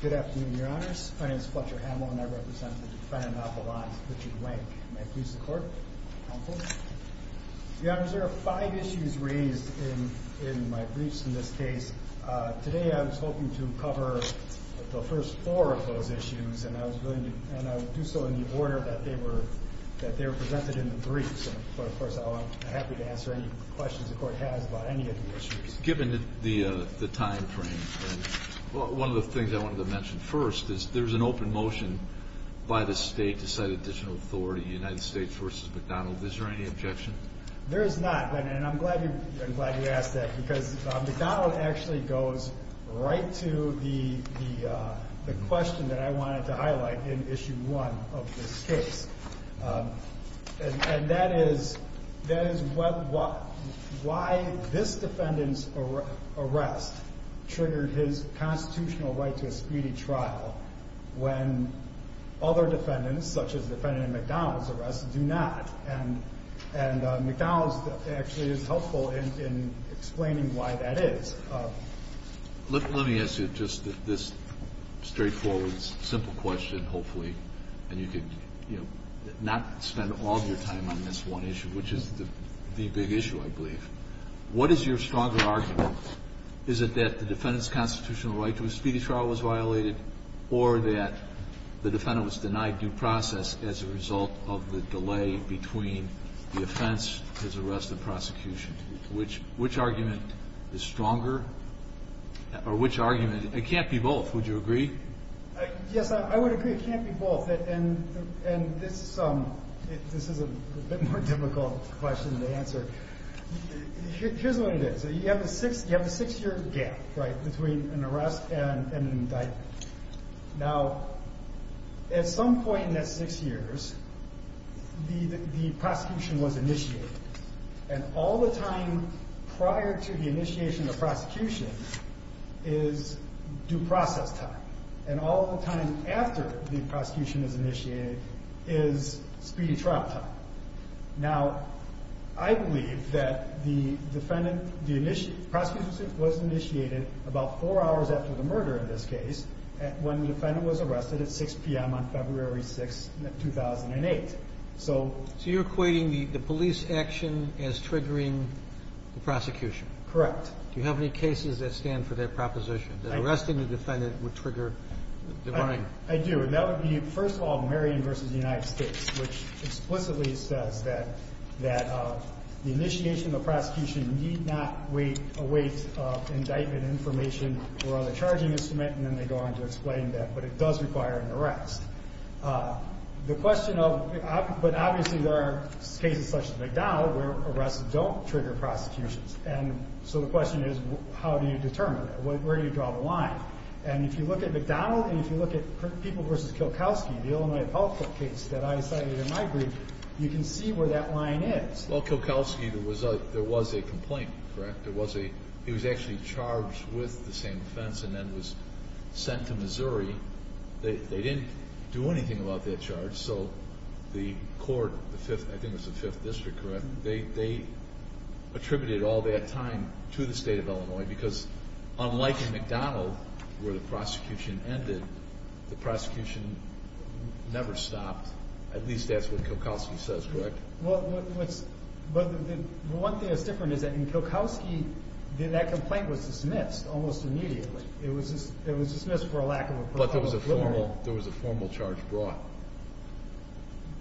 Good afternoon, your honors. My name is Fletcher Hamel, and I represent the Defendant Appalachian Court of Appalachia, and I'm here to discuss the case of Richard Wanke. May I please the court? Your honors, there are five issues raised in my briefs in this case. Today I was hoping to cover the first four of those issues, and I would do so in the order that they were presented in the briefs, but of course I'm happy to answer any questions the court has about any of the issues. Given the time frame, one of the things I wanted to mention first is there's an open motion by the state to cite additional authority in United States v. McDonald. Is there any objection? There is not, and I'm glad you asked that, because McDonald actually goes right to the question that I wanted to highlight in issue one of this case, and that is why this defendant's arrest triggered his constitutional right to a speedy trial when other defendants, such as the defendant in McDonald's arrest, do not. And McDonald's actually is helpful in explaining why that is. Let me ask you just this straightforward, simple question, hopefully, and you can, you know, not spend all your time on this one issue, which is the big issue, I believe. What is your stronger argument? Is it that the defendant's constitutional right to a speedy trial was violated, or that the defendant was denied due process as a result of the delay between the offense and his arrest and prosecution? Which argument is stronger, or which argument? It can't be both. Would you agree? Yes, I would agree. It can't be both. And this is a bit more difficult question to answer. Here's what it is. You have a six year gap, right, between an arrest and an indictment. Now, at some point in that six years, the prosecution was initiated, and all the time prior to the initiation of prosecution is due process time, and all the time after the prosecution is initiated is speedy trial time. Now, I believe that the defendant, the prosecution was initiated about four hours after the murder in this case, when the defendant was arrested at 6 p.m. on February 6, 2008. So you're equating the police action as triggering the prosecution? Correct. Do you have any cases that stand for that proposition, that arresting the defendant would trigger the denying? I do. And that would be, first of all, Marion v. United States, which explicitly says that the initiation of the prosecution need not await indictment information or other charging instrument, and then they go on to explain that. But it does require an arrest. The question of – but obviously there are cases such as McDonald where arrests don't trigger prosecutions. And so the question is, how do you determine that? Where do you draw the line? And if you look at McDonald and if you look at People v. Kilkowski, the Illinois appellate court case that I cited in my brief, you can see where that line is. Well, Kilkowski, there was a complaint, correct? There was a – he was actually charged with the same offense and then was sent to Missouri. They didn't do anything about that charge, so the court – I think it was the 5th District, correct? They attributed all that time to the state of Illinois because unlike in McDonald where the prosecution ended, the prosecution never stopped. At least that's what Kilkowski says, correct? Well, what's – well, one thing that's different is that in Kilkowski, that complaint was dismissed almost immediately. It was dismissed for a lack of a – But there was a formal – there was a formal charge brought.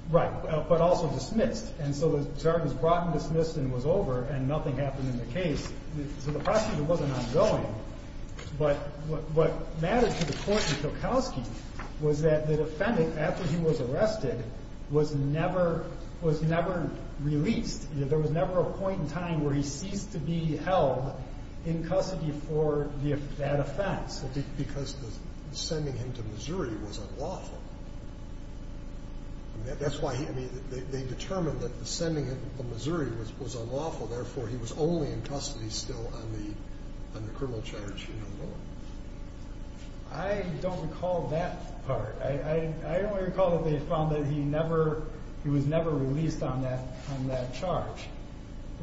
Right, but also dismissed. And so the charge was brought and dismissed and was over and nothing happened in the case. So the prosecution wasn't ongoing, but what matters to the court in Kilkowski was that the defendant, after he was arrested, was never released. There was never a point in time where he ceased to be held in custody for that offense. Because sending him to Missouri was unlawful. That's why – I mean, they determined that sending him to Missouri was unlawful. Therefore, he was only in custody still on the criminal charge in Illinois. I don't recall that part. I only recall that they found that he never – he was never released on that charge,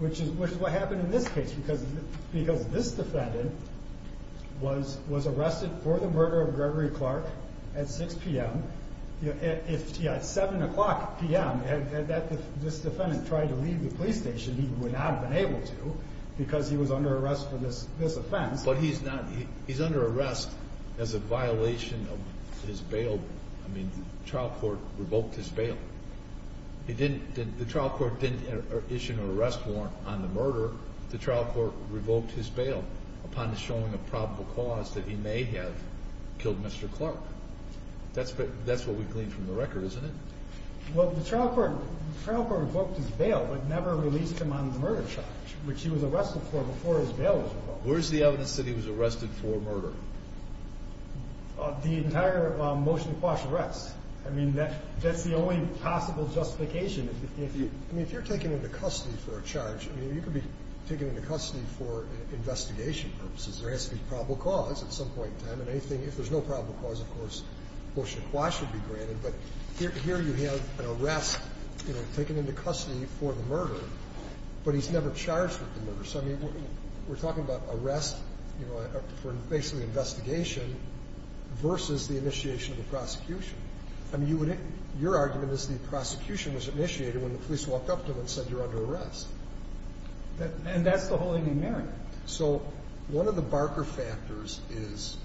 which is what happened in this case. Because this defendant was arrested for the murder of Gregory Clark at 6 p.m. At 7 o'clock p.m., had this defendant tried to leave the police station, he would not have been able to because he was under arrest for this offense. But he's not – he's under arrest as a violation of his bail. I mean, the trial court revoked his bail. The trial court didn't issue an arrest warrant on the murder. The trial court revoked his bail upon showing a probable cause that he may have killed Mr. Clark. That's what we've gleaned from the record, isn't it? Well, the trial court revoked his bail but never released him on the murder charge, which he was arrested for before his bail was revoked. Where's the evidence that he was arrested for murder? The entire Motion to Quash arrest. I mean, that's the only possible justification. I mean, if you're taken into custody for a charge, I mean, you could be taken into custody for investigation purposes. There has to be probable cause at some point in time. And anything – if there's no probable cause, of course, Motion to Quash would be granted. But here you have an arrest, you know, taken into custody for the murder, but he's never charged with the murder. So, I mean, we're talking about arrest, you know, for basically investigation versus the initiation of a prosecution. I mean, your argument is the prosecution was initiated when the police walked up to him and said you're under arrest. And that's the whole enumeration. So one of the Barker factors is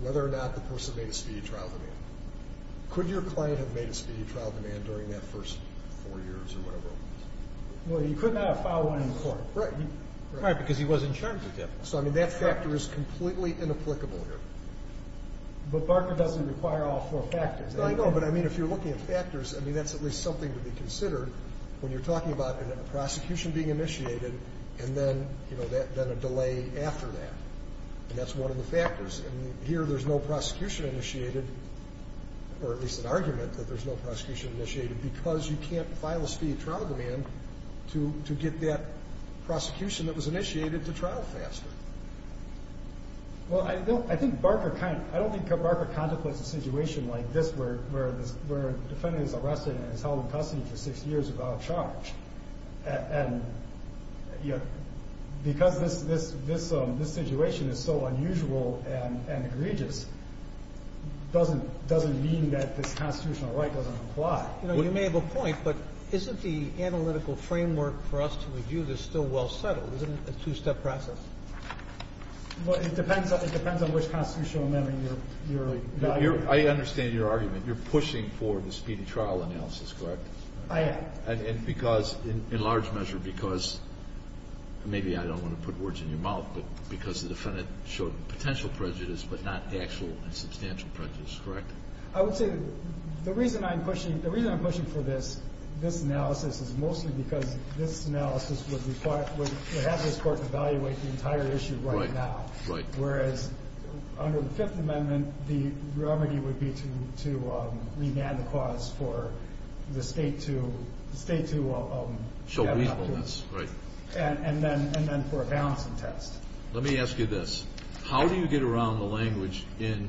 whether or not the person made a speedy trial demand. Could your client have made a speedy trial demand during that first four years or whatever? Well, he could not have filed one in court. Right. Right, because he wasn't charged with it. So, I mean, that factor is completely inapplicable here. But Barker doesn't require all four factors. No, I know. But, I mean, if you're looking at factors, I mean, that's at least something to be considered when you're talking about a prosecution being initiated and then, you know, then a delay after that. And that's one of the factors. And here there's no prosecution initiated, or at least an argument that there's no prosecution initiated because you can't file a speedy trial demand to get that prosecution that was initiated to trial faster. Well, I think Barker kind of ‑‑ I don't think Barker contemplates a situation like this where a defendant is arrested and is held in custody for six years without charge. And, you know, because this situation is so unusual and egregious, it doesn't mean that this constitutional right doesn't apply. You know, you may have a point, but isn't the analytical framework for us to review this still well settled? Isn't it a two‑step process? Well, it depends on which constitutional amendment you're evaluating. I understand your argument. You're pushing for the speedy trial analysis, correct? I am. And because in large measure because ‑‑ maybe I don't want to put words in your mouth, but because the defendant showed potential prejudice but not actual and substantial prejudice, correct? I would say the reason I'm pushing for this analysis is mostly because this analysis would require ‑‑ would have this Court evaluate the entire issue right now. Right, right. Whereas under the Fifth Amendment, the remedy would be to remand the cause for the state to ‑‑ Show reasonableness. Right. And then for a balancing test. Let me ask you this. How do you get around the language in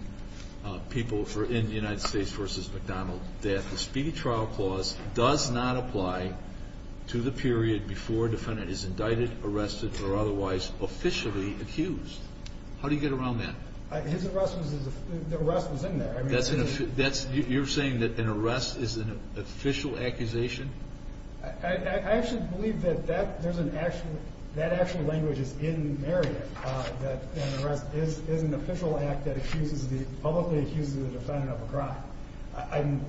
people in the United States v. McDonnell that the speedy trial clause does not apply to the period before a defendant is indicted, arrested, or otherwise officially accused? How do you get around that? His arrest was ‑‑ the arrest was in there. That's an ‑‑ you're saying that an arrest is an official accusation? I actually believe that there's an actual ‑‑ that actual language is in Marriott, that an arrest is an official act that publicly accuses the defendant of a crime.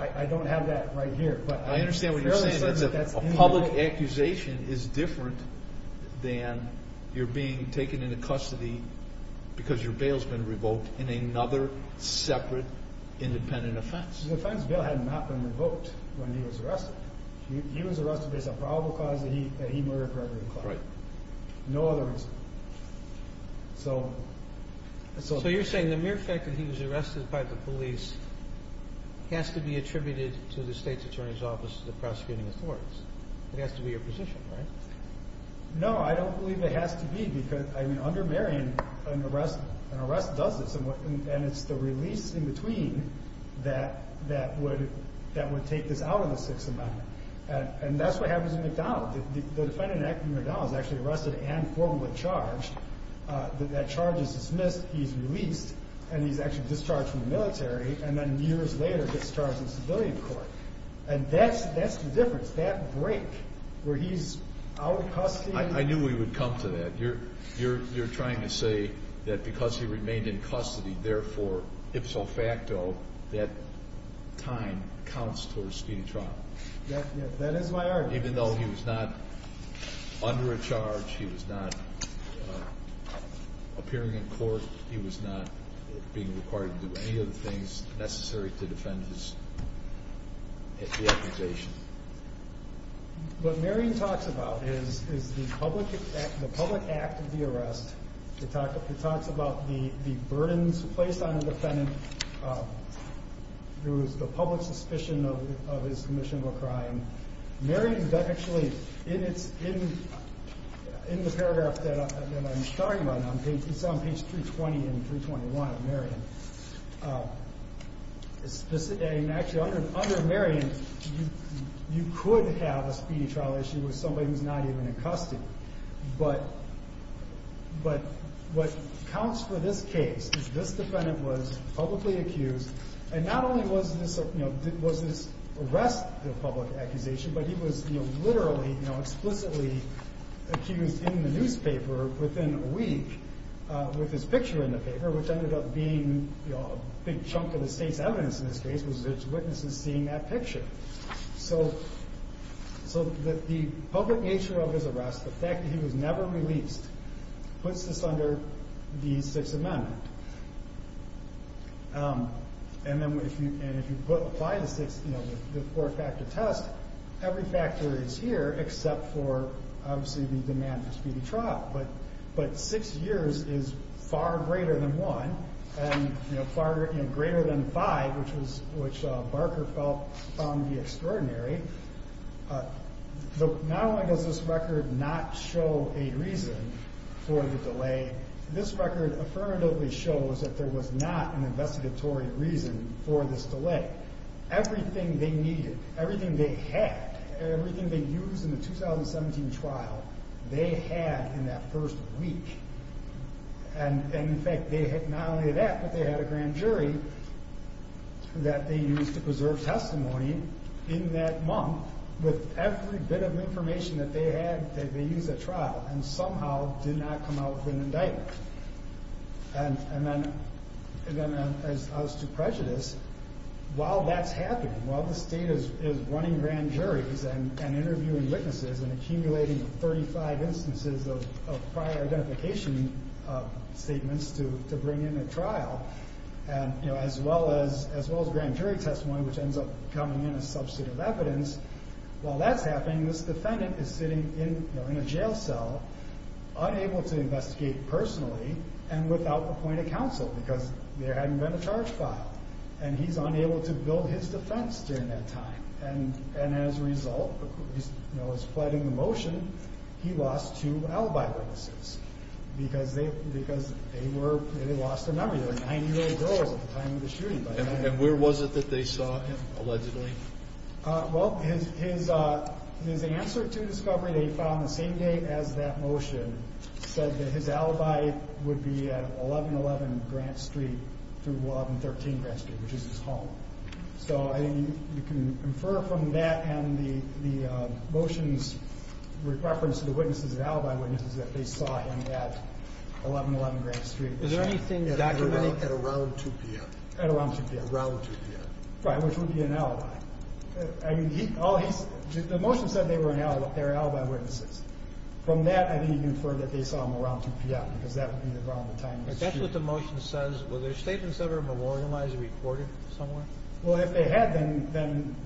I don't have that right here. But I understand what you're saying, that a public accusation is different than you're being taken into custody because your bail's been revoked in another separate independent offense. The offense bill had not been revoked when he was arrested. He was arrested as a probable cause that he murdered Gregory Clark. Right. No other reason. So you're saying the mere fact that he was arrested by the police has to be attributed to the state's attorney's office, the prosecuting authorities. It has to be your position, right? No, I don't believe it has to be because, I mean, under Marion, an arrest does this, and it's the release in between that would take this out of the Sixth Amendment. And that's what happens in MacDonald. The defendant in MacDonald is actually arrested and formally charged. That charge is dismissed, he's released, and he's actually discharged from the military and then years later gets charged in civilian court. And that's the difference, that break where he's out of custody. I knew we would come to that. You're trying to say that because he remained in custody, therefore, ipso facto, that time counts towards speedy trial. That is my argument. Even though he was not under a charge, he was not appearing in court, he was not being required to do any of the things necessary to defend his accusation. What Marion talks about is the public act of the arrest. It talks about the burdens placed on the defendant through the public suspicion of his commission of a crime. Marion actually, in the paragraph that I'm starting on, it's on page 320 and 321 of Marion. Actually, under Marion, you could have a speedy trial issue with somebody who's not even in custody. But what counts for this case is this defendant was publicly accused. And not only was this arrest a public accusation, but he was literally, explicitly accused in the newspaper within a week with his picture in the paper, which ended up being a big chunk of the state's evidence in this case, was witnesses seeing that picture. So the public nature of his arrest, the fact that he was never released, puts this under the Sixth Amendment. And if you apply the four-factor test, every factor is here except for, obviously, the demand for speedy trial. But six years is far greater than one, and greater than five, which Barker felt found to be extraordinary. Not only does this record not show a reason for the delay, this record affirmatively shows that there was not an investigatory reason for this delay. Everything they needed, everything they had, everything they used in the 2017 trial, they had in that first week. And in fact, not only that, but they had a grand jury that they used to preserve testimony in that month with every bit of information that they had that they used at trial, and somehow did not come out with an indictment. And then as to prejudice, while that's happening, while the state is running grand juries and interviewing witnesses and accumulating 35 instances of prior identification statements to bring in at trial, as well as grand jury testimony, which ends up coming in as substantive evidence, while that's happening, this defendant is sitting in a jail cell, unable to investigate personally and without the point of counsel, because there hadn't been a charge filed. And he's unable to build his defense during that time. And as a result, he's pleading the motion. He lost two alibi witnesses because they were – they lost a number. They were nine-year-old girls at the time of the shooting. And where was it that they saw him, allegedly? Well, his answer to discovery that he filed on the same day as that motion said that his alibi would be at 1111 Grant Street through 1113 Grant Street, which is his home. So I think you can infer from that and the motions with reference to the witnesses, the alibi witnesses, that they saw him at 1111 Grant Street. Is there anything documented? At around 2 p.m. At around 2 p.m. Around 2 p.m. Right, which would be an alibi. I mean, he – all he – the motion said they were alibi witnesses. From that, I think you can infer that they saw him around 2 p.m. because that would be around the time of the shooting. That's what the motion says. Were their statements ever memorialized or reported somewhere? Well, if they had, then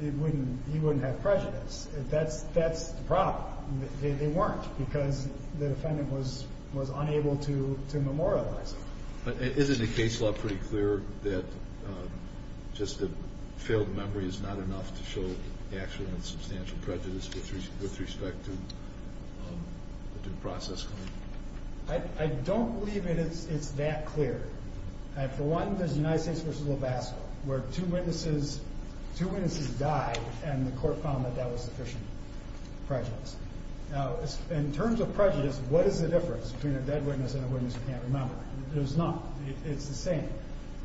he wouldn't have prejudice. That's the problem. They weren't because the defendant was unable to memorialize him. But isn't the case law pretty clear that just a failed memory is not enough to show actual and substantial prejudice with respect to the due process claim? I don't believe it's that clear. For one, there's United States v. Labasco, where two witnesses died, and the court found that that was sufficient prejudice. Now, in terms of prejudice, what is the difference between a dead witness and a witness who can't remember? There's none. It's the same.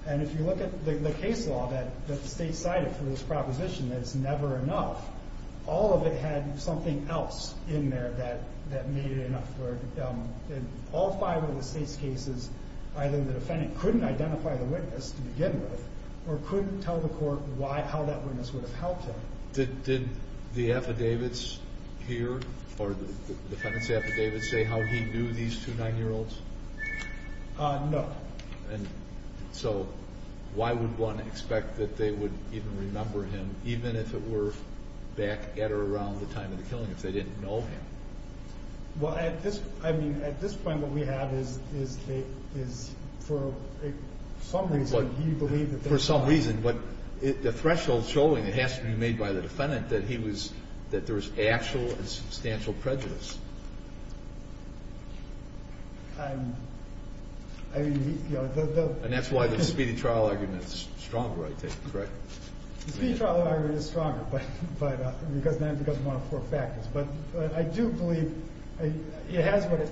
And if you look at the case law that the state cited for this proposition that it's never enough, all of it had something else in there that made it enough. All five of the state's cases, either the defendant couldn't identify the witness to begin with or couldn't tell the court how that witness would have helped him. Did the affidavits here, or the defendant's affidavits, say how he knew these two 9-year-olds? No. So why would one expect that they would even remember him, even if it were back at or around the time of the killing, if they didn't know him? Well, I mean, at this point, what we have is for some reason, he believed that they knew him. For some reason, the threshold showing it has to be made by the defendant that there was actual and substantial prejudice. And that's why the speedy trial argument is stronger, I take it, correct? The speedy trial argument is stronger because of one of four factors. But I do believe it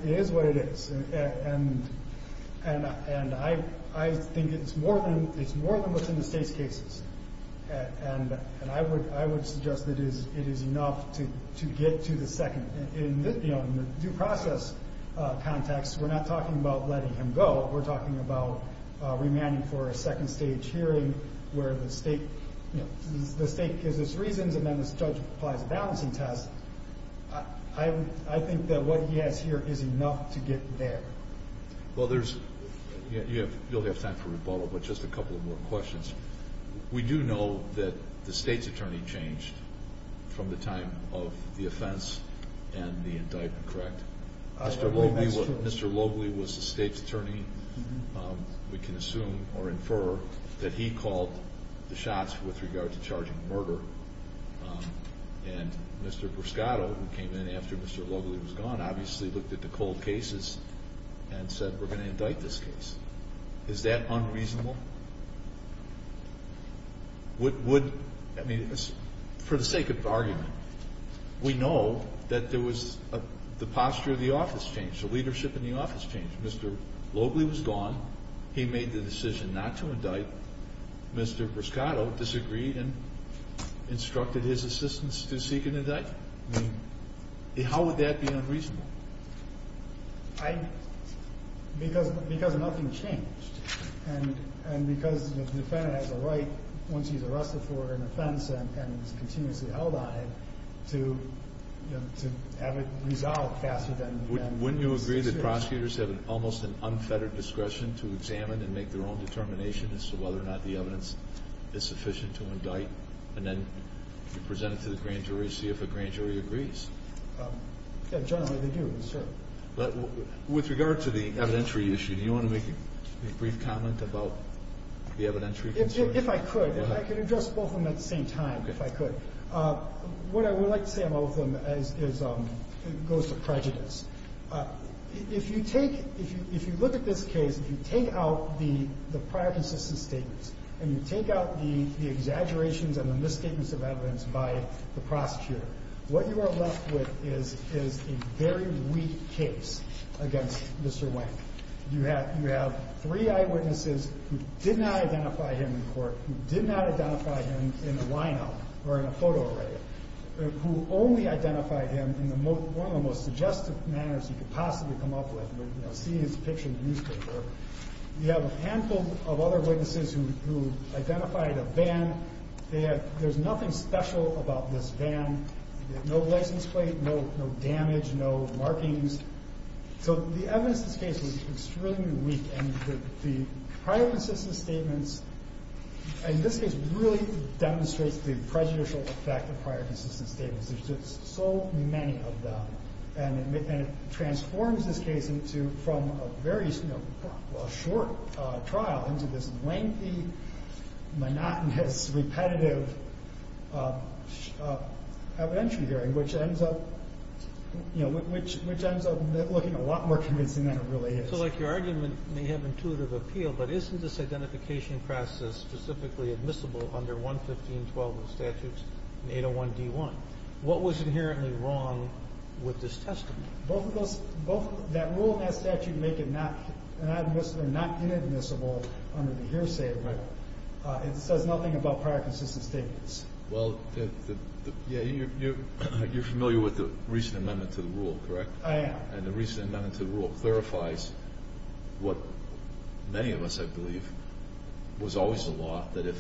is what it is. And I think it's more than what's in the state's cases. And I would suggest that it is enough to get to the second. In the due process context, we're not talking about letting him go. We're talking about remanding for a second-stage hearing where the state gives its reasons and then this judge applies a balancing test. I think that what he has here is enough to get there. Well, you'll have time for rebuttal, but just a couple more questions. We do know that the state's attorney changed from the time of the offense and the indictment, correct? That's true. Mr. Loebly was the state's attorney. We can assume or infer that he called the shots with regard to charging murder. And Mr. Brescato, who came in after Mr. Loebly was gone, obviously looked at the cold cases and said, We're going to indict this case. Is that unreasonable? I mean, for the sake of argument, we know that there was the posture of the office changed, the leadership in the office changed. Mr. Loebly was gone. He made the decision not to indict. But Mr. Brescato disagreed and instructed his assistants to seek an indictment? I mean, how would that be unreasonable? Because nothing changed. And because the defendant has a right, once he's arrested for an offense and is continuously held on it, to have it resolved faster than the defendants decision. Do you agree that prosecutors have almost an unfettered discretion to examine and make their own determination as to whether or not the evidence is sufficient to indict, and then present it to the grand jury to see if the grand jury agrees? Generally, they do, sir. With regard to the evidentiary issue, do you want to make a brief comment about the evidentiary concern? If I could. If I could address both of them at the same time, if I could. What I would like to say about both of them is it goes to prejudice. If you take – if you look at this case, if you take out the prior consistent statements, and you take out the exaggerations and the misstatements of evidence by the prosecutor, what you are left with is a very weak case against Mr. Wank. You have three eyewitnesses who did not identify him in court, who did not identify him in a lineup or in a photo array, who only identified him in one of the most suggestive manners you could possibly come up with, seeing his picture in the newspaper. You have a handful of other witnesses who identified a van. There's nothing special about this van. No license plate, no damage, no markings. So the evidence in this case is extremely weak. And the prior consistent statements in this case really demonstrate the prejudicial effect of prior consistent statements. There's just so many of them. And it transforms this case from a very short trial into this lengthy, monotonous, repetitive evidentiary hearing, which ends up – you know, which ends up looking a lot more convincing than it really is. So, like, your argument may have intuitive appeal, but isn't this identification process specifically admissible under 115.12 of the statutes and 801d.1? What was inherently wrong with this testimony? Both of those – that rule and that statute make it not inadmissible under the hearsay rule. It says nothing about prior consistent statements. Well, yeah, you're familiar with the recent amendment to the rule, correct? I am. And the recent amendment to the rule clarifies what many of us have believed was always the law, that if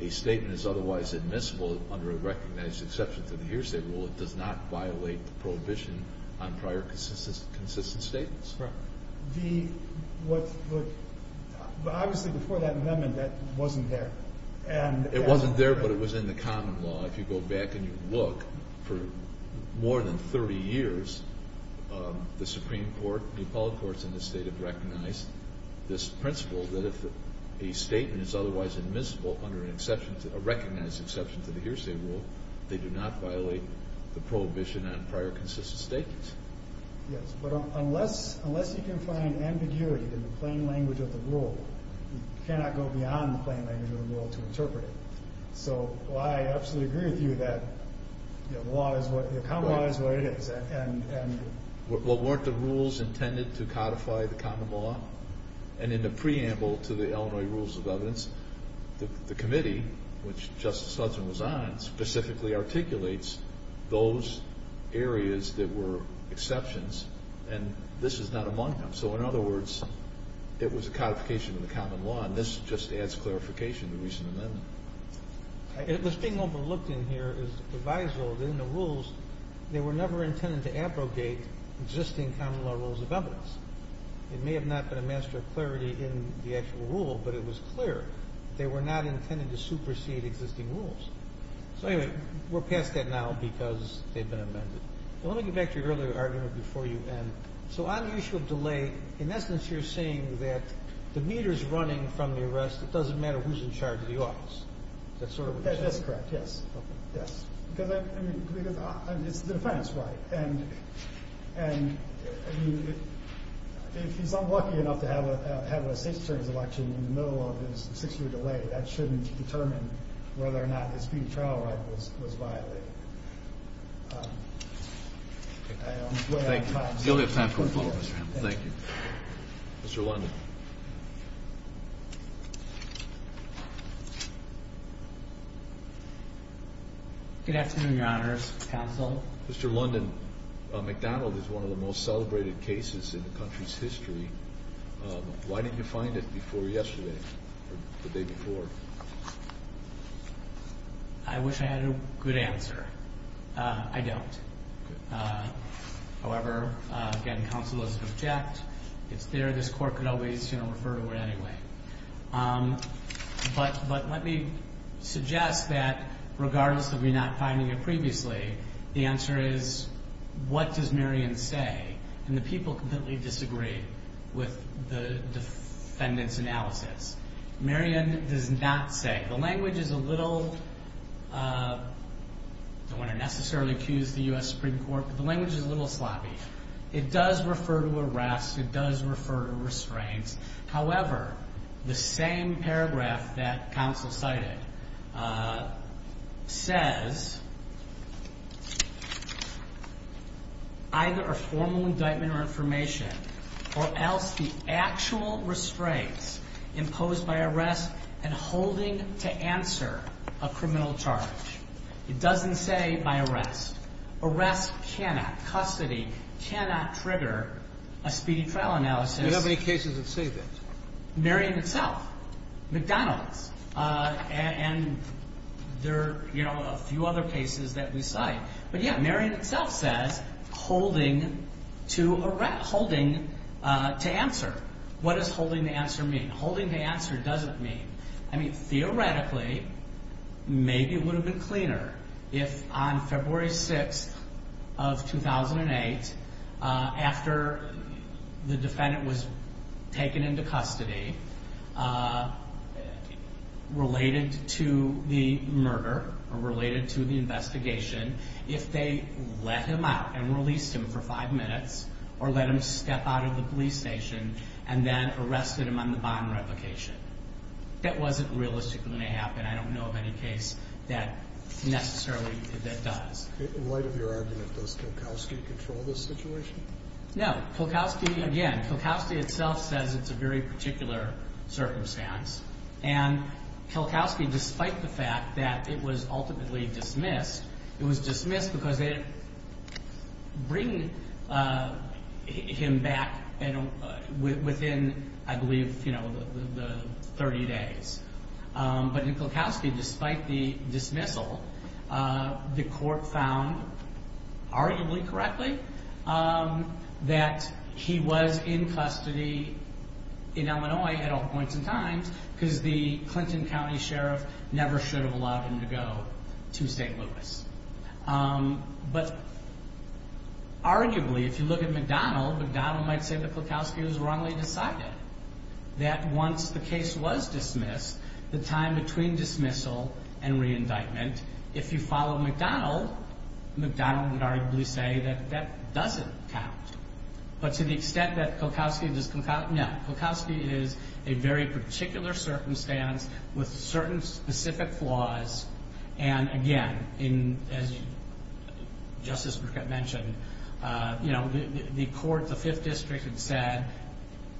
a statement is otherwise admissible under a recognized exception to the hearsay rule, it does not violate the prohibition on prior consistent statements. Right. The – what – obviously, before that amendment, that wasn't there. It wasn't there, but it was in the common law. If you go back and you look, for more than 30 years, the Supreme Court, the appellate courts in this state have recognized this principle that if a statement is otherwise admissible under an exception – a recognized exception to the hearsay rule, they do not violate the prohibition on prior consistent statements. Yes, but unless you can find ambiguity in the plain language of the rule, you cannot go beyond the plain language of the rule to interpret it. So I absolutely agree with you that the law is what – the common law is what it is. Well, weren't the rules intended to codify the common law? And in the preamble to the Illinois Rules of Evidence, the committee, which Justice Hudson was on, specifically articulates those areas that were exceptions, and this is not among them. So in other words, it was a codification of the common law, and this just adds clarification to the recent amendment. This being overlooked in here is provisional that in the rules, they were never intended to abrogate existing common law rules of evidence. It may have not been a master of clarity in the actual rule, but it was clear. They were not intended to supersede existing rules. So anyway, we're past that now because they've been amended. Let me get back to your earlier argument before you end. So on the issue of delay, in essence, you're saying that the meter's running from the arrest. It doesn't matter who's in charge of the office. Is that sort of what you're saying? That's correct, yes. Okay. Yes. Because, I mean, it's the defendant's right, and if he's unlucky enough to have a state's attorney's election in the middle of his six-year delay, that shouldn't determine whether or not his speedy trial right was violated. Thank you. You'll have time for a follow-up, Mr. Hamill. Thank you. Mr. London. Good afternoon, Your Honors. Counsel. Mr. London, McDonald is one of the most celebrated cases in the country's history. Why didn't you find it before yesterday or the day before? I wish I had a good answer. I don't. However, again, counsel doesn't object. It's there. This Court could always, you know, refer to it anyway. But let me suggest that regardless of me not finding it previously, the answer is, what does Marion say? And the people completely disagree with the defendant's analysis. Marion does not say. The language is a little, I don't want to necessarily accuse the U.S. Supreme Court, but the language is a little sloppy. It does refer to arrest. It does refer to restraints. However, the same paragraph that counsel cited says, either a formal indictment or information, or else the actual restraints imposed by arrest and holding to answer a criminal charge. It doesn't say by arrest. Arrest cannot, custody cannot trigger a speedy trial analysis. Do you have any cases that say that? Marion itself. McDonald's. And there are, you know, a few other cases that we cite. But yeah, Marion itself says holding to answer. What does holding to answer mean? Holding to answer doesn't mean. I mean, theoretically, maybe it would have been cleaner if on February 6th of 2008, after the defendant was taken into custody, related to the murder or related to the investigation, if they let him out and released him for five minutes or let him step out of the police station and then arrested him on the bond replication. That wasn't realistically going to happen. I don't know of any case that necessarily that does. In light of your argument, does Kulkowski control this situation? No. Kulkowski, again, Kulkowski itself says it's a very particular circumstance. And Kulkowski, despite the fact that it was ultimately dismissed, it was dismissed because they didn't bring him back within, I believe, you know, the 30 days. But in Kulkowski, despite the dismissal, the court found, arguably correctly, that he was in custody in Illinois at all points in time because the Clinton County Sheriff never should have allowed him to go to St. Louis. But arguably, if you look at McDonnell, McDonnell might say that Kulkowski was wrongly decided. That once the case was dismissed, the time between dismissal and re-indictment, if you follow McDonnell, McDonnell would arguably say that that doesn't count. But to the extent that Kulkowski does count, no. Kulkowski is a very particular circumstance with certain specific flaws. And, again, as Justice Burkett mentioned, you know, the court, the Fifth District, had said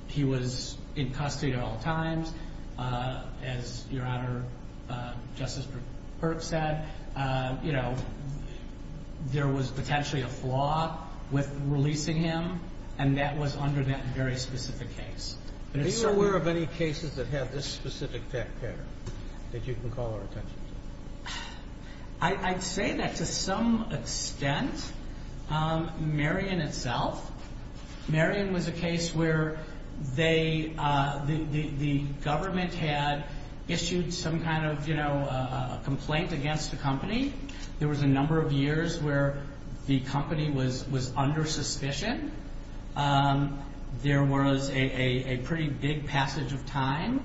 he was in custody at all times. As Your Honor, Justice Burkett said, you know, there was potentially a flaw with releasing him, and that was under that very specific case. Are you aware of any cases that have this specific tech pattern that you can call our attention to? I'd say that to some extent. Marion itself, Marion was a case where the government had issued some kind of, you know, a complaint against the company. There was a number of years where the company was under suspicion. There was a pretty big passage of time.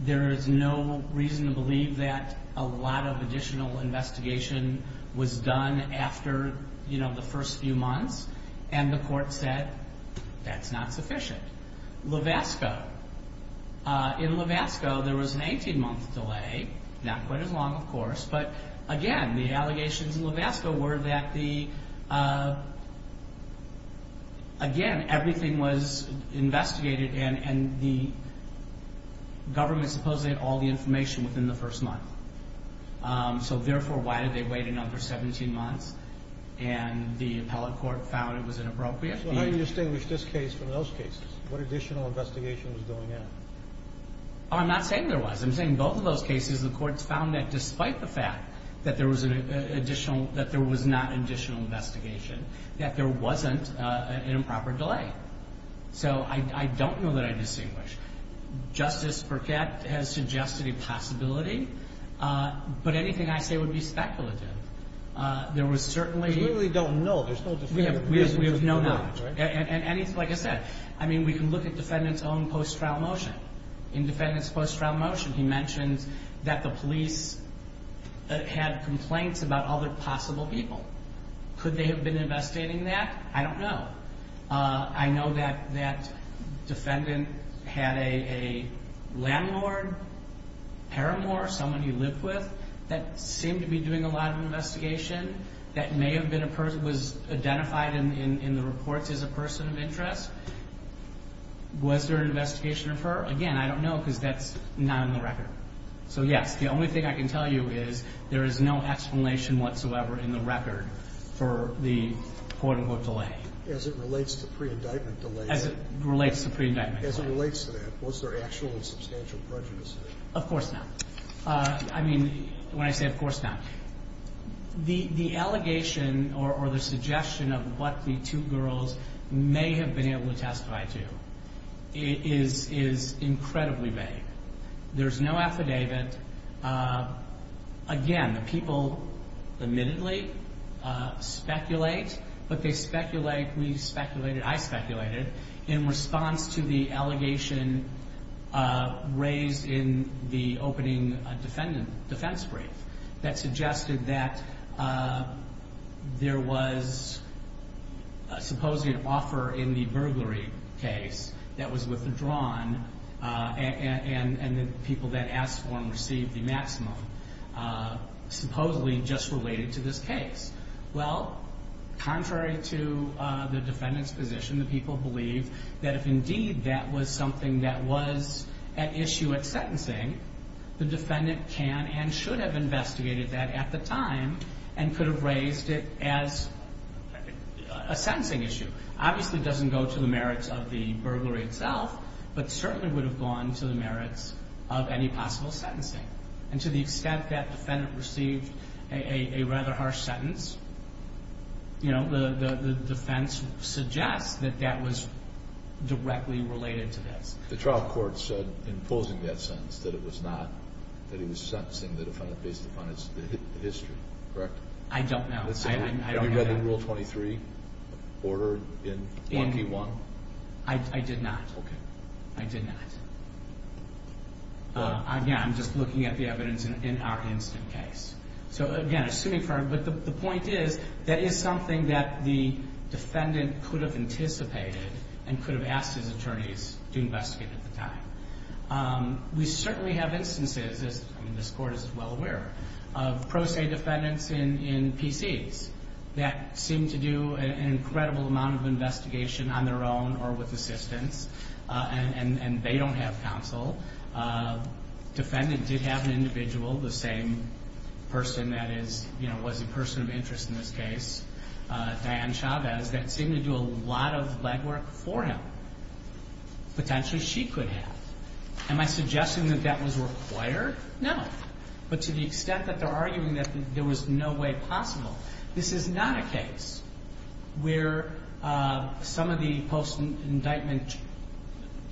There is no reason to believe that a lot of additional investigation was done after, you know, the first few months. And the court said that's not sufficient. Levasco. In Levasco, there was an 18-month delay, not quite as long, of course. But, again, the allegations in Levasco were that the, again, everything was investigated, and the government supposedly had all the information within the first month. So, therefore, why did they wait another 17 months? And the appellate court found it was inappropriate. So how do you distinguish this case from those cases? What additional investigation was going on? I'm not saying there was. I'm saying in both of those cases, the courts found that despite the fact that there was an additional, that there was not additional investigation, that there wasn't an improper delay. So I don't know that I distinguish. Justice Burkett has suggested a possibility. But anything I say would be speculative. There was certainly. We really don't know. There's no dispute. We have no knowledge. And, like I said, I mean, we can look at defendants' own post-trial motion. In defendants' post-trial motion, he mentions that the police had complaints about other possible people. Could they have been investigating that? I don't know. I know that that defendant had a landlord, paramour, someone he lived with, that seemed to be doing a lot of investigation, that may have been a person, was identified in the reports as a person of interest. Was there an investigation of her? Again, I don't know because that's not on the record. So, yes, the only thing I can tell you is there is no explanation whatsoever in the record for the quote-unquote delay. As it relates to pre-indictment delay. As it relates to pre-indictment delay. As it relates to that, was there actual and substantial prejudice? Of course not. I mean, when I say of course not, the allegation or the suggestion of what the two girls may have been able to testify to is incredibly vague. There's no affidavit. Again, the people admittedly speculate, but they speculate, we speculated, I speculated, in response to the allegation raised in the opening defense brief that suggested that there was supposedly an offer in the burglary case that was withdrawn and the people that asked for and received the maximum supposedly just related to this case. Well, contrary to the defendant's position, the people believe that if indeed that was something that was at issue at sentencing, the defendant can and should have investigated that at the time and could have raised it as a sentencing issue. Obviously it doesn't go to the merits of the burglary itself, but certainly would have gone to the merits of any possible sentencing. And to the extent that the defendant received a rather harsh sentence, you know, the defense suggests that that was directly related to this. The trial court said in posing that sentence that it was not, that he was sentencing the defendant based upon his history, correct? I don't know. Have you read the Rule 23 order in 1P1? I did not. Okay. I did not. Again, I'm just looking at the evidence in our instant case. So again, assuming for, but the point is, that is something that the defendant could have anticipated and could have asked his attorneys to investigate at the time. We certainly have instances, as this court is well aware, of pro se defendants in PCs that seem to do an incredible amount of investigation on their own or with assistance, and they don't have counsel. Defendant did have an individual, the same person that is, you know, was a person of interest in this case, Diane Chavez, that seemed to do a lot of legwork for him. Potentially she could have. Am I suggesting that that was required? No. But to the extent that they're arguing that there was no way possible, this is not a case where some of the post-indictment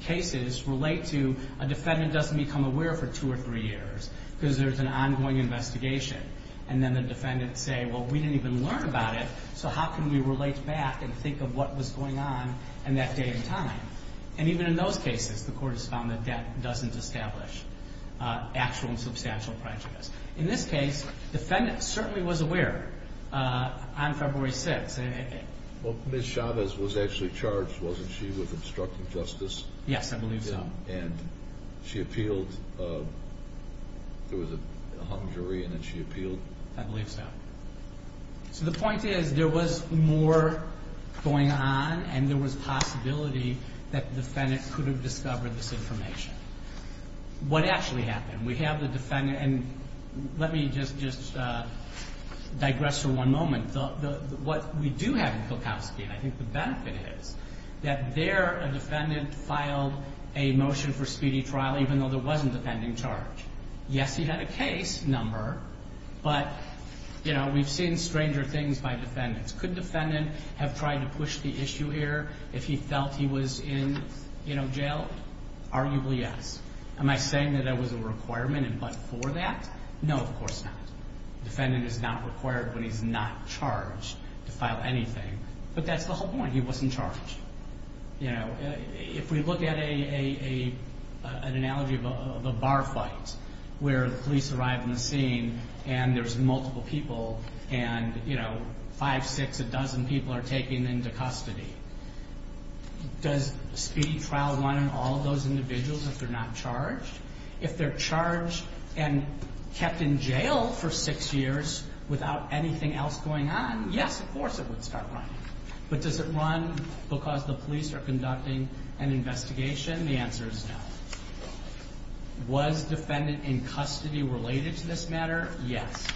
cases relate to a defendant doesn't become aware for two or three years because there's an ongoing investigation, and then the defendants say, well, we didn't even learn about it, so how can we relate back and think of what was going on in that day and time? And even in those cases, the court has found that that doesn't establish actual and substantial prejudice. In this case, the defendant certainly was aware on February 6th. Well, Ms. Chavez was actually charged, wasn't she, with obstructing justice? Yes, I believe so. And she appealed. There was a hung jury, and then she appealed. I believe so. So the point is there was more going on, and there was possibility that the defendant could have discovered this information. What actually happened? We have the defendant, and let me just digress for one moment. What we do have in Kilkowski, and I think the benefit is, that there a defendant filed a motion for speedy trial even though there wasn't a pending charge. Yes, he had a case number, but we've seen stranger things by defendants. Could a defendant have tried to push the issue here if he felt he was in jail? Arguably, yes. Am I saying that there was a requirement and but for that? No, of course not. A defendant is not required when he's not charged to file anything. But that's the whole point. He wasn't charged. If we look at an analogy of a bar fight where the police arrive on the scene, and there's multiple people, and five, six, a dozen people are taken into custody, does speedy trial run on all of those individuals if they're not charged? If they're charged and kept in jail for six years without anything else going on, yes, of course it would start running. But does it run because the police are conducting an investigation? The answer is no. Was defendant in custody related to this matter? Yes.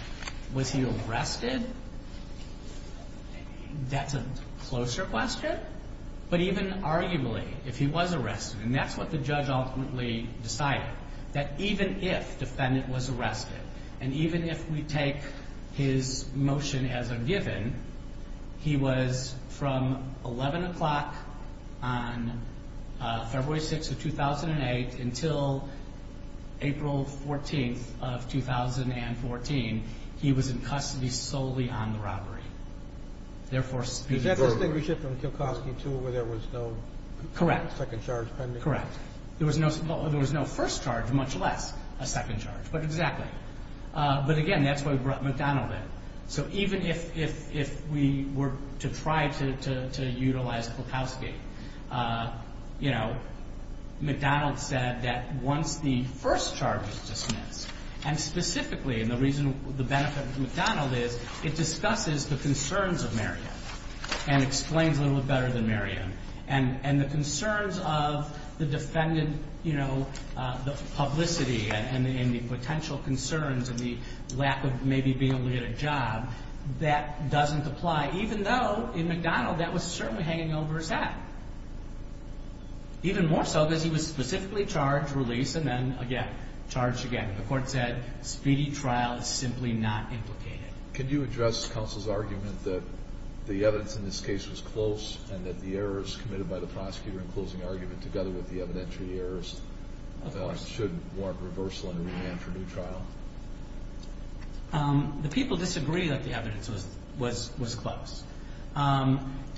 Was he arrested? That's a closer question. But even arguably, if he was arrested, and that's what the judge ultimately decided, that even if defendant was arrested, and even if we take his motion as a given, he was from 11 o'clock on February 6th of 2008 until April 14th of 2014, he was in custody solely on the robbery. Does that distinguish it from Kilkoski, too, where there was no second charge pending? Correct. There was no first charge, much less a second charge. But again, that's what McDonnell did. So even if we were to try to utilize Kilkoski, McDonnell said that once the first charge is dismissed, and specifically, and the benefit of McDonnell is it discusses the concerns of Marion and explains a little bit better than Marion, and the concerns of the defendant, the publicity and the potential concerns and the lack of maybe being able to get a job, that doesn't apply, even though, in McDonnell, that was certainly hanging over his head. Even more so because he was specifically charged, released, and then, again, charged again. The court said speedy trial is simply not implicated. Could you address counsel's argument that the evidence in this case was close and that the errors committed by the prosecutor in closing argument, together with the evidentiary errors, should warrant reversal and remand for new trial? The people disagree that the evidence was close.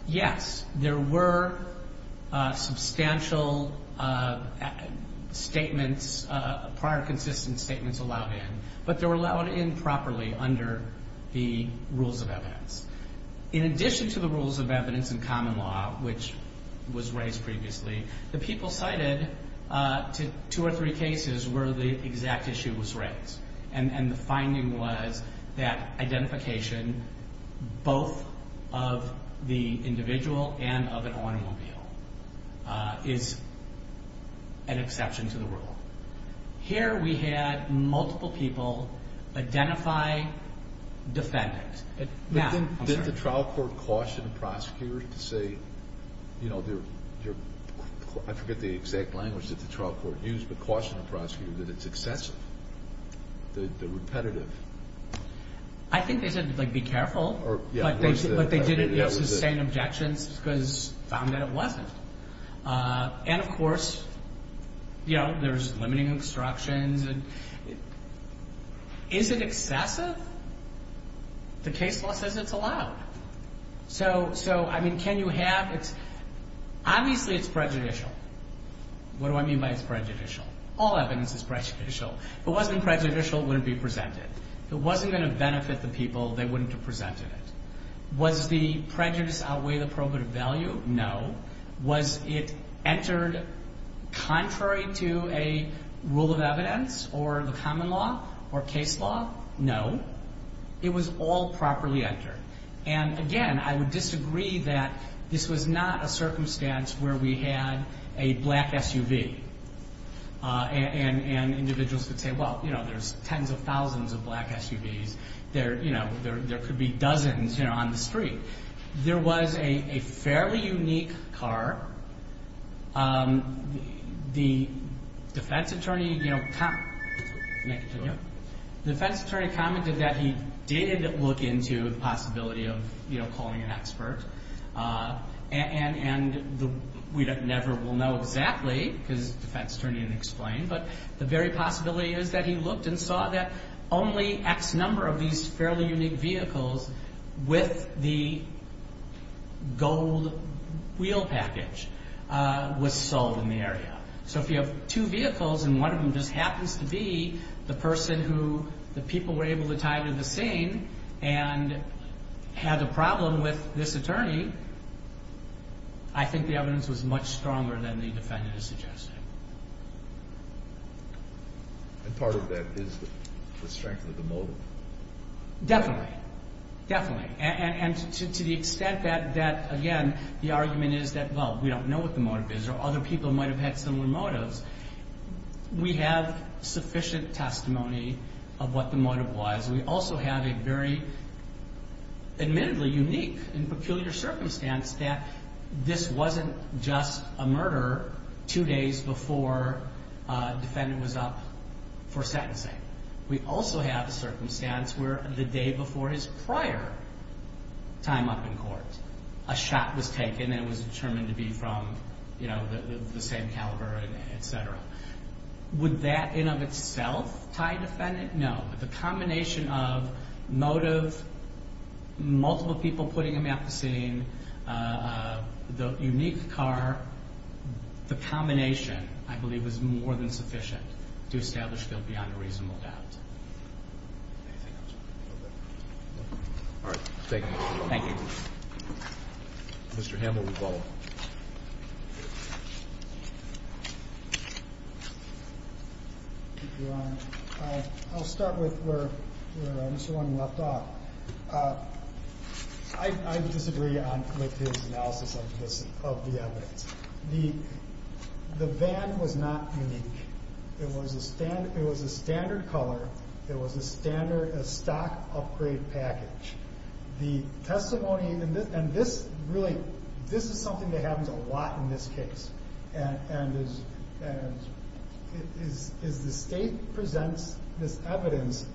Yes, there were substantial statements, prior consistent statements allowed in, but they were allowed in properly under the rules of evidence. In addition to the rules of evidence in common law, which was raised previously, the people cited two or three cases where the exact issue was raised, and the finding was that identification, both of the individual and of an automobile, is an exception to the rule. Here we had multiple people identify defendants. Did the trial court caution the prosecutors to say, I forget the exact language that the trial court used, but cautioned the prosecutor that it's excessive, that they're repetitive? I think they said, like, be careful, but they didn't sustain objections because they found that it wasn't. And, of course, there's limiting instructions. Is it excessive? The case law says it's allowed. So, I mean, can you have... Obviously it's prejudicial. What do I mean by it's prejudicial? All evidence is prejudicial. If it wasn't prejudicial, it wouldn't be presented. If it wasn't going to benefit the people, they wouldn't have presented it. Was the prejudice outweigh the probative value? No. Was it entered contrary to a rule of evidence or the common law or case law? No. It was all properly entered. And, again, I would disagree that this was not a circumstance where we had a black SUV. And individuals could say, well, you know, there's tens of thousands of black SUVs. There could be dozens, you know, on the street. There was a fairly unique car. The defense attorney, you know, the defense attorney commented that he did look into the possibility of, you know, calling an expert. And we never will know exactly, because the defense attorney didn't explain, but the very possibility is that he looked and saw that only X number of these fairly unique vehicles with the gold wheel package was sold in the area. So if you have two vehicles and one of them just happens to be the person who the people were able to tie to the scene and had a problem with this attorney, I think the evidence was much stronger than the defendant is suggesting. And part of that is the strength of the motive. Definitely. Definitely. And to the extent that, again, the argument is that, well, we don't know what the motive is or other people might have had similar motives, we have sufficient testimony of what the motive was. We also have a very admittedly unique and peculiar circumstance that this wasn't just a murder two days before a defendant was up for sentencing. We also have a circumstance where the day before his prior time up in court, a shot was taken and it was determined to be from, you know, the same caliber, et cetera. Would that in of itself tie a defendant? No. The combination of motive, multiple people putting him at the scene, the unique car, the combination, I believe, is more than sufficient to establish guilt beyond a reasonable doubt. All right. Thank you. Thank you. Mr. Hamill, we'll follow up. Thank you, Your Honor. I'll start with where Mr. Romney left off. I disagree with his analysis of the evidence. The van was not unique. It was a standard color. It was a stock upgrade package. The testimony, and this really, this is something that happens a lot in this case, and the state presents this evidence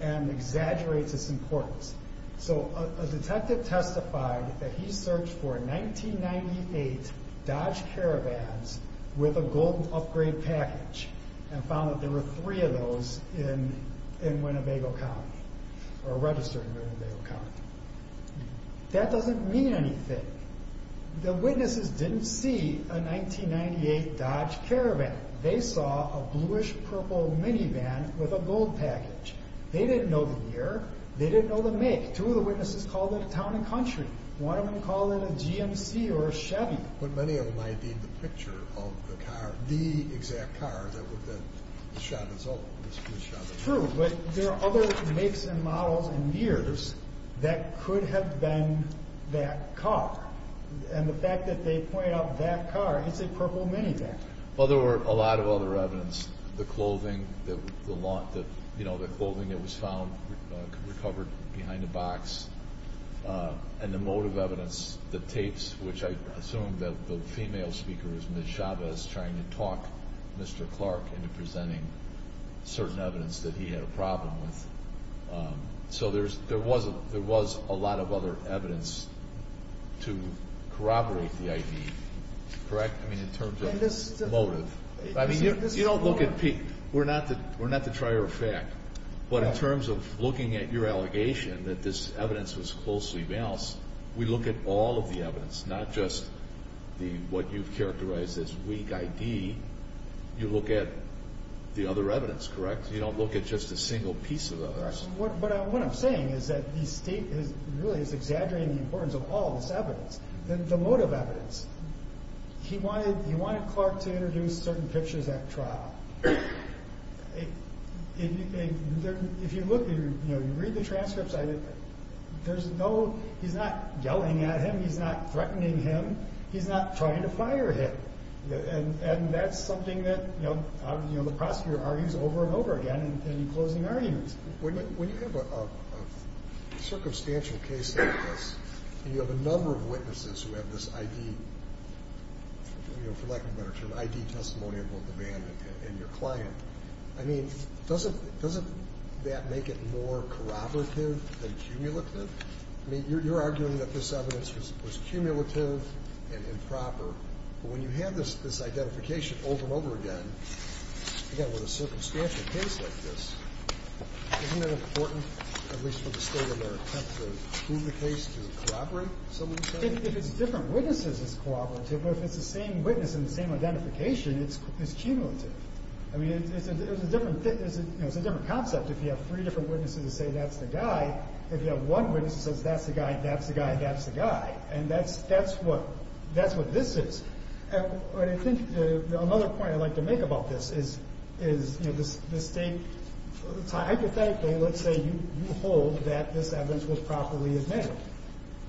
and exaggerates its importance. So a detective testified that he searched for 1998 Dodge Caravans with a golden upgrade package and found that there were three of those in Winnebago County, or registered in Winnebago County. That doesn't mean anything. The witnesses didn't see a 1998 Dodge Caravan. They saw a bluish-purple minivan with a gold package. They didn't know the year. They didn't know the make. Two of the witnesses called it a town and country. One of them called it a GMC or a Chevy. But many of them identified the picture of the car, the exact car that would have been shot and sold. True, but there are other makes and models and years that could have been that car. And the fact that they point out that car, it's a purple minivan. Well, there were a lot of other evidence, the clothing that was found recovered behind a box, and the motive evidence, the tapes, which I assume that the female speaker is Ms. Chavez trying to talk Mr. Clark into presenting certain evidence that he had a problem with. So there was a lot of other evidence to corroborate the ID, correct? I mean, in terms of motive. You don't look at Pete. We're not the trier of fact. But in terms of looking at your allegation, that this evidence was closely balanced, we look at all of the evidence, not just what you've characterized as weak ID. You look at the other evidence, correct? You don't look at just a single piece of the evidence. But what I'm saying is that the state really is exaggerating the importance of all this evidence, the motive evidence. He wanted Clark to introduce certain pictures at trial. If you look, you know, you read the transcripts, he's not yelling at him, he's not threatening him, he's not trying to fire him. And that's something that the prosecutor argues over and over again in closing arguments. When you have a circumstantial case like this, you have a number of witnesses who have this ID, for lack of a better term, ID testimony of both the man and your client. I mean, doesn't that make it more corroborative than cumulative? I mean, you're arguing that this evidence was cumulative and improper. But when you have this identification over and over again, again, with a circumstantial case like this, isn't it important, at least for the state of America, to prove the case to corroborate some of the evidence? If it's different witnesses, it's corroborative. But if it's the same witness and the same identification, it's cumulative. I mean, it's a different concept if you have three different witnesses who say, that's the guy. If you have one witness who says, that's the guy, that's the guy, that's the guy. And that's what this is. I think another point I'd like to make about this is the state, hypothetically, let's say you hold that this evidence was properly admitted.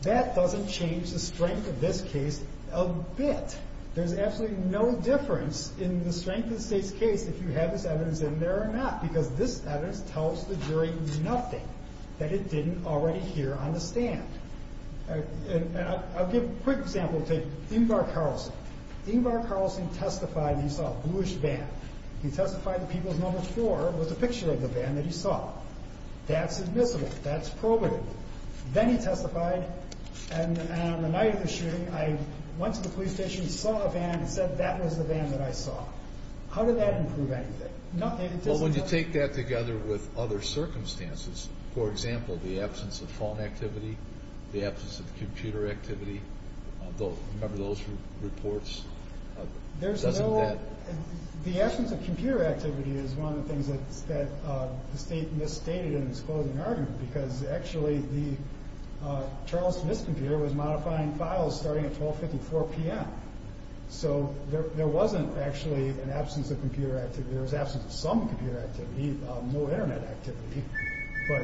That doesn't change the strength of this case a bit. There's absolutely no difference in the strength of the state's case if you have this evidence in there or not, because this evidence tells the jury nothing that it didn't already hear on the stand. I'll give a quick example. Take Ingvar Carlsen. Ingvar Carlsen testified he saw a bluish van. He testified that People's No. 4 was a picture of the van that he saw. That's admissible. That's probative. Then he testified, and on the night of the shooting, I went to the police station, saw a van, and said that was the van that I saw. How did that improve anything? Well, when you take that together with other circumstances, for example, the absence of phone activity, the absence of computer activity, remember those reports? The absence of computer activity is one of the things that the state misstated in its closing argument, because actually the Charles Smith computer was modifying files starting at 1254 p.m. So there wasn't actually an absence of computer activity. There was absence of some computer activity, no Internet activity, but...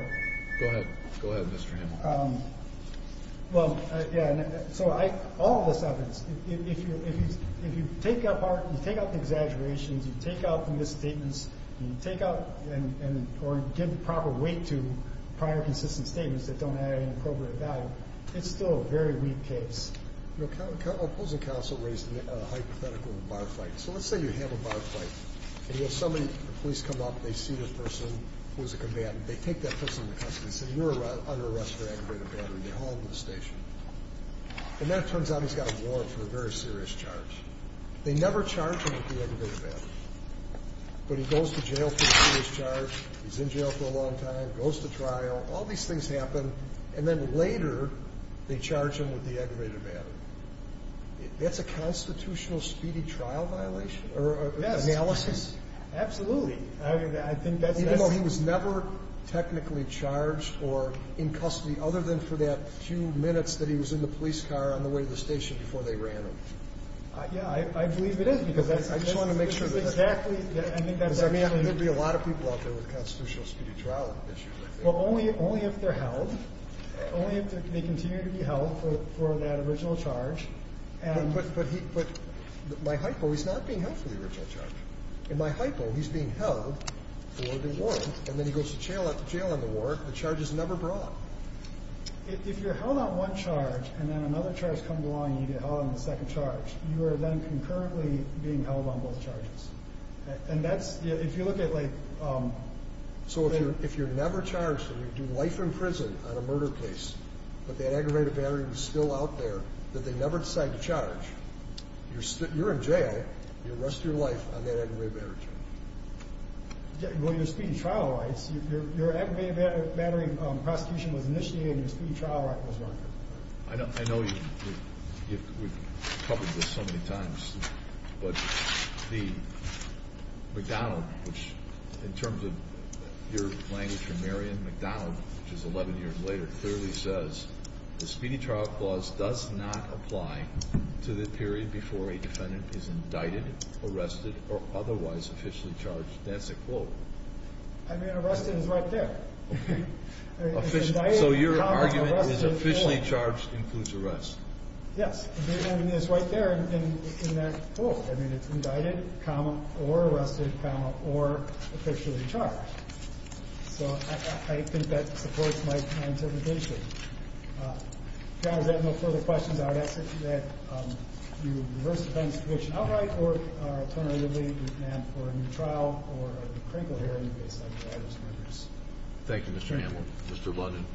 Go ahead. Go ahead, Mr. Hamill. Well, yeah, so all of this evidence, if you take out the exaggerations, you take out the misstatements, and you take out or give proper weight to prior consistent statements that don't add any appropriate value, it's still a very weak case. The opposing counsel raised a hypothetical bar fight. So let's say you have a bar fight, and you have somebody, the police come up, they see the person who was a combatant, they take that person into custody and say, you're under arrest for aggravated battery. They haul him to the station. And then it turns out he's got a warrant for a very serious charge. They never charge him with the aggravated battery. But he goes to jail for a serious charge, he's in jail for a long time, goes to trial. All these things happen. And then later, they charge him with the aggravated battery. That's a constitutional speedy trial violation? Yes. Analysis? Absolutely. I think that's necessary. Even though he was never technically charged or in custody other than for that few minutes that he was in the police car on the way to the station before they ran him? Yeah, I believe it is, because that's exactly the case. I just want to make sure. I think that's actually the case. Because there would be a lot of people out there with constitutional speedy trial issues. Well, only if they're held. Only if they continue to be held for that original charge. But my hypo, he's not being held for the original charge. In my hypo, he's being held for the warrant, and then he goes to jail on the warrant. The charge is never brought. If you're held on one charge, and then another charge comes along and you get held on the second charge, you are then concurrently being held on both charges. And that's, if you look at, like... So if you're never charged and you do life in prison on a murder case, but that aggravated battery was still out there that they never decided to charge, you're in jail your rest of your life on that aggravated battery charge. Well, your speedy trial rights, your aggravated battery prosecution was initiated and your speedy trial record was not. I know you've covered this so many times, but McDonald, which in terms of your language for Marion, McDonald, which is 11 years later, clearly says the speedy trial clause does not apply to the period before a defendant is indicted, arrested, or otherwise officially charged. That's a quote. I mean, arrested is right there. Okay. So your argument is officially charged includes arrest. Yes. The argument is right there in that quote. I mean, it's indicted, comma, or arrested, comma, or officially charged. So I think that supports my interpretation. If you guys have no further questions, I would ask that you reverse the defense situation outright or alternatively you can ask for a new trial or a critical hearing based on the other's records. Thank you, Mr. Hamill. Mr. London,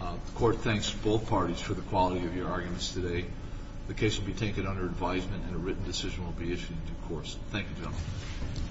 the Court thanks both parties for the quality of your arguments. The case will be taken under advisement and a written decision will be issued in due course. Thank you, gentlemen.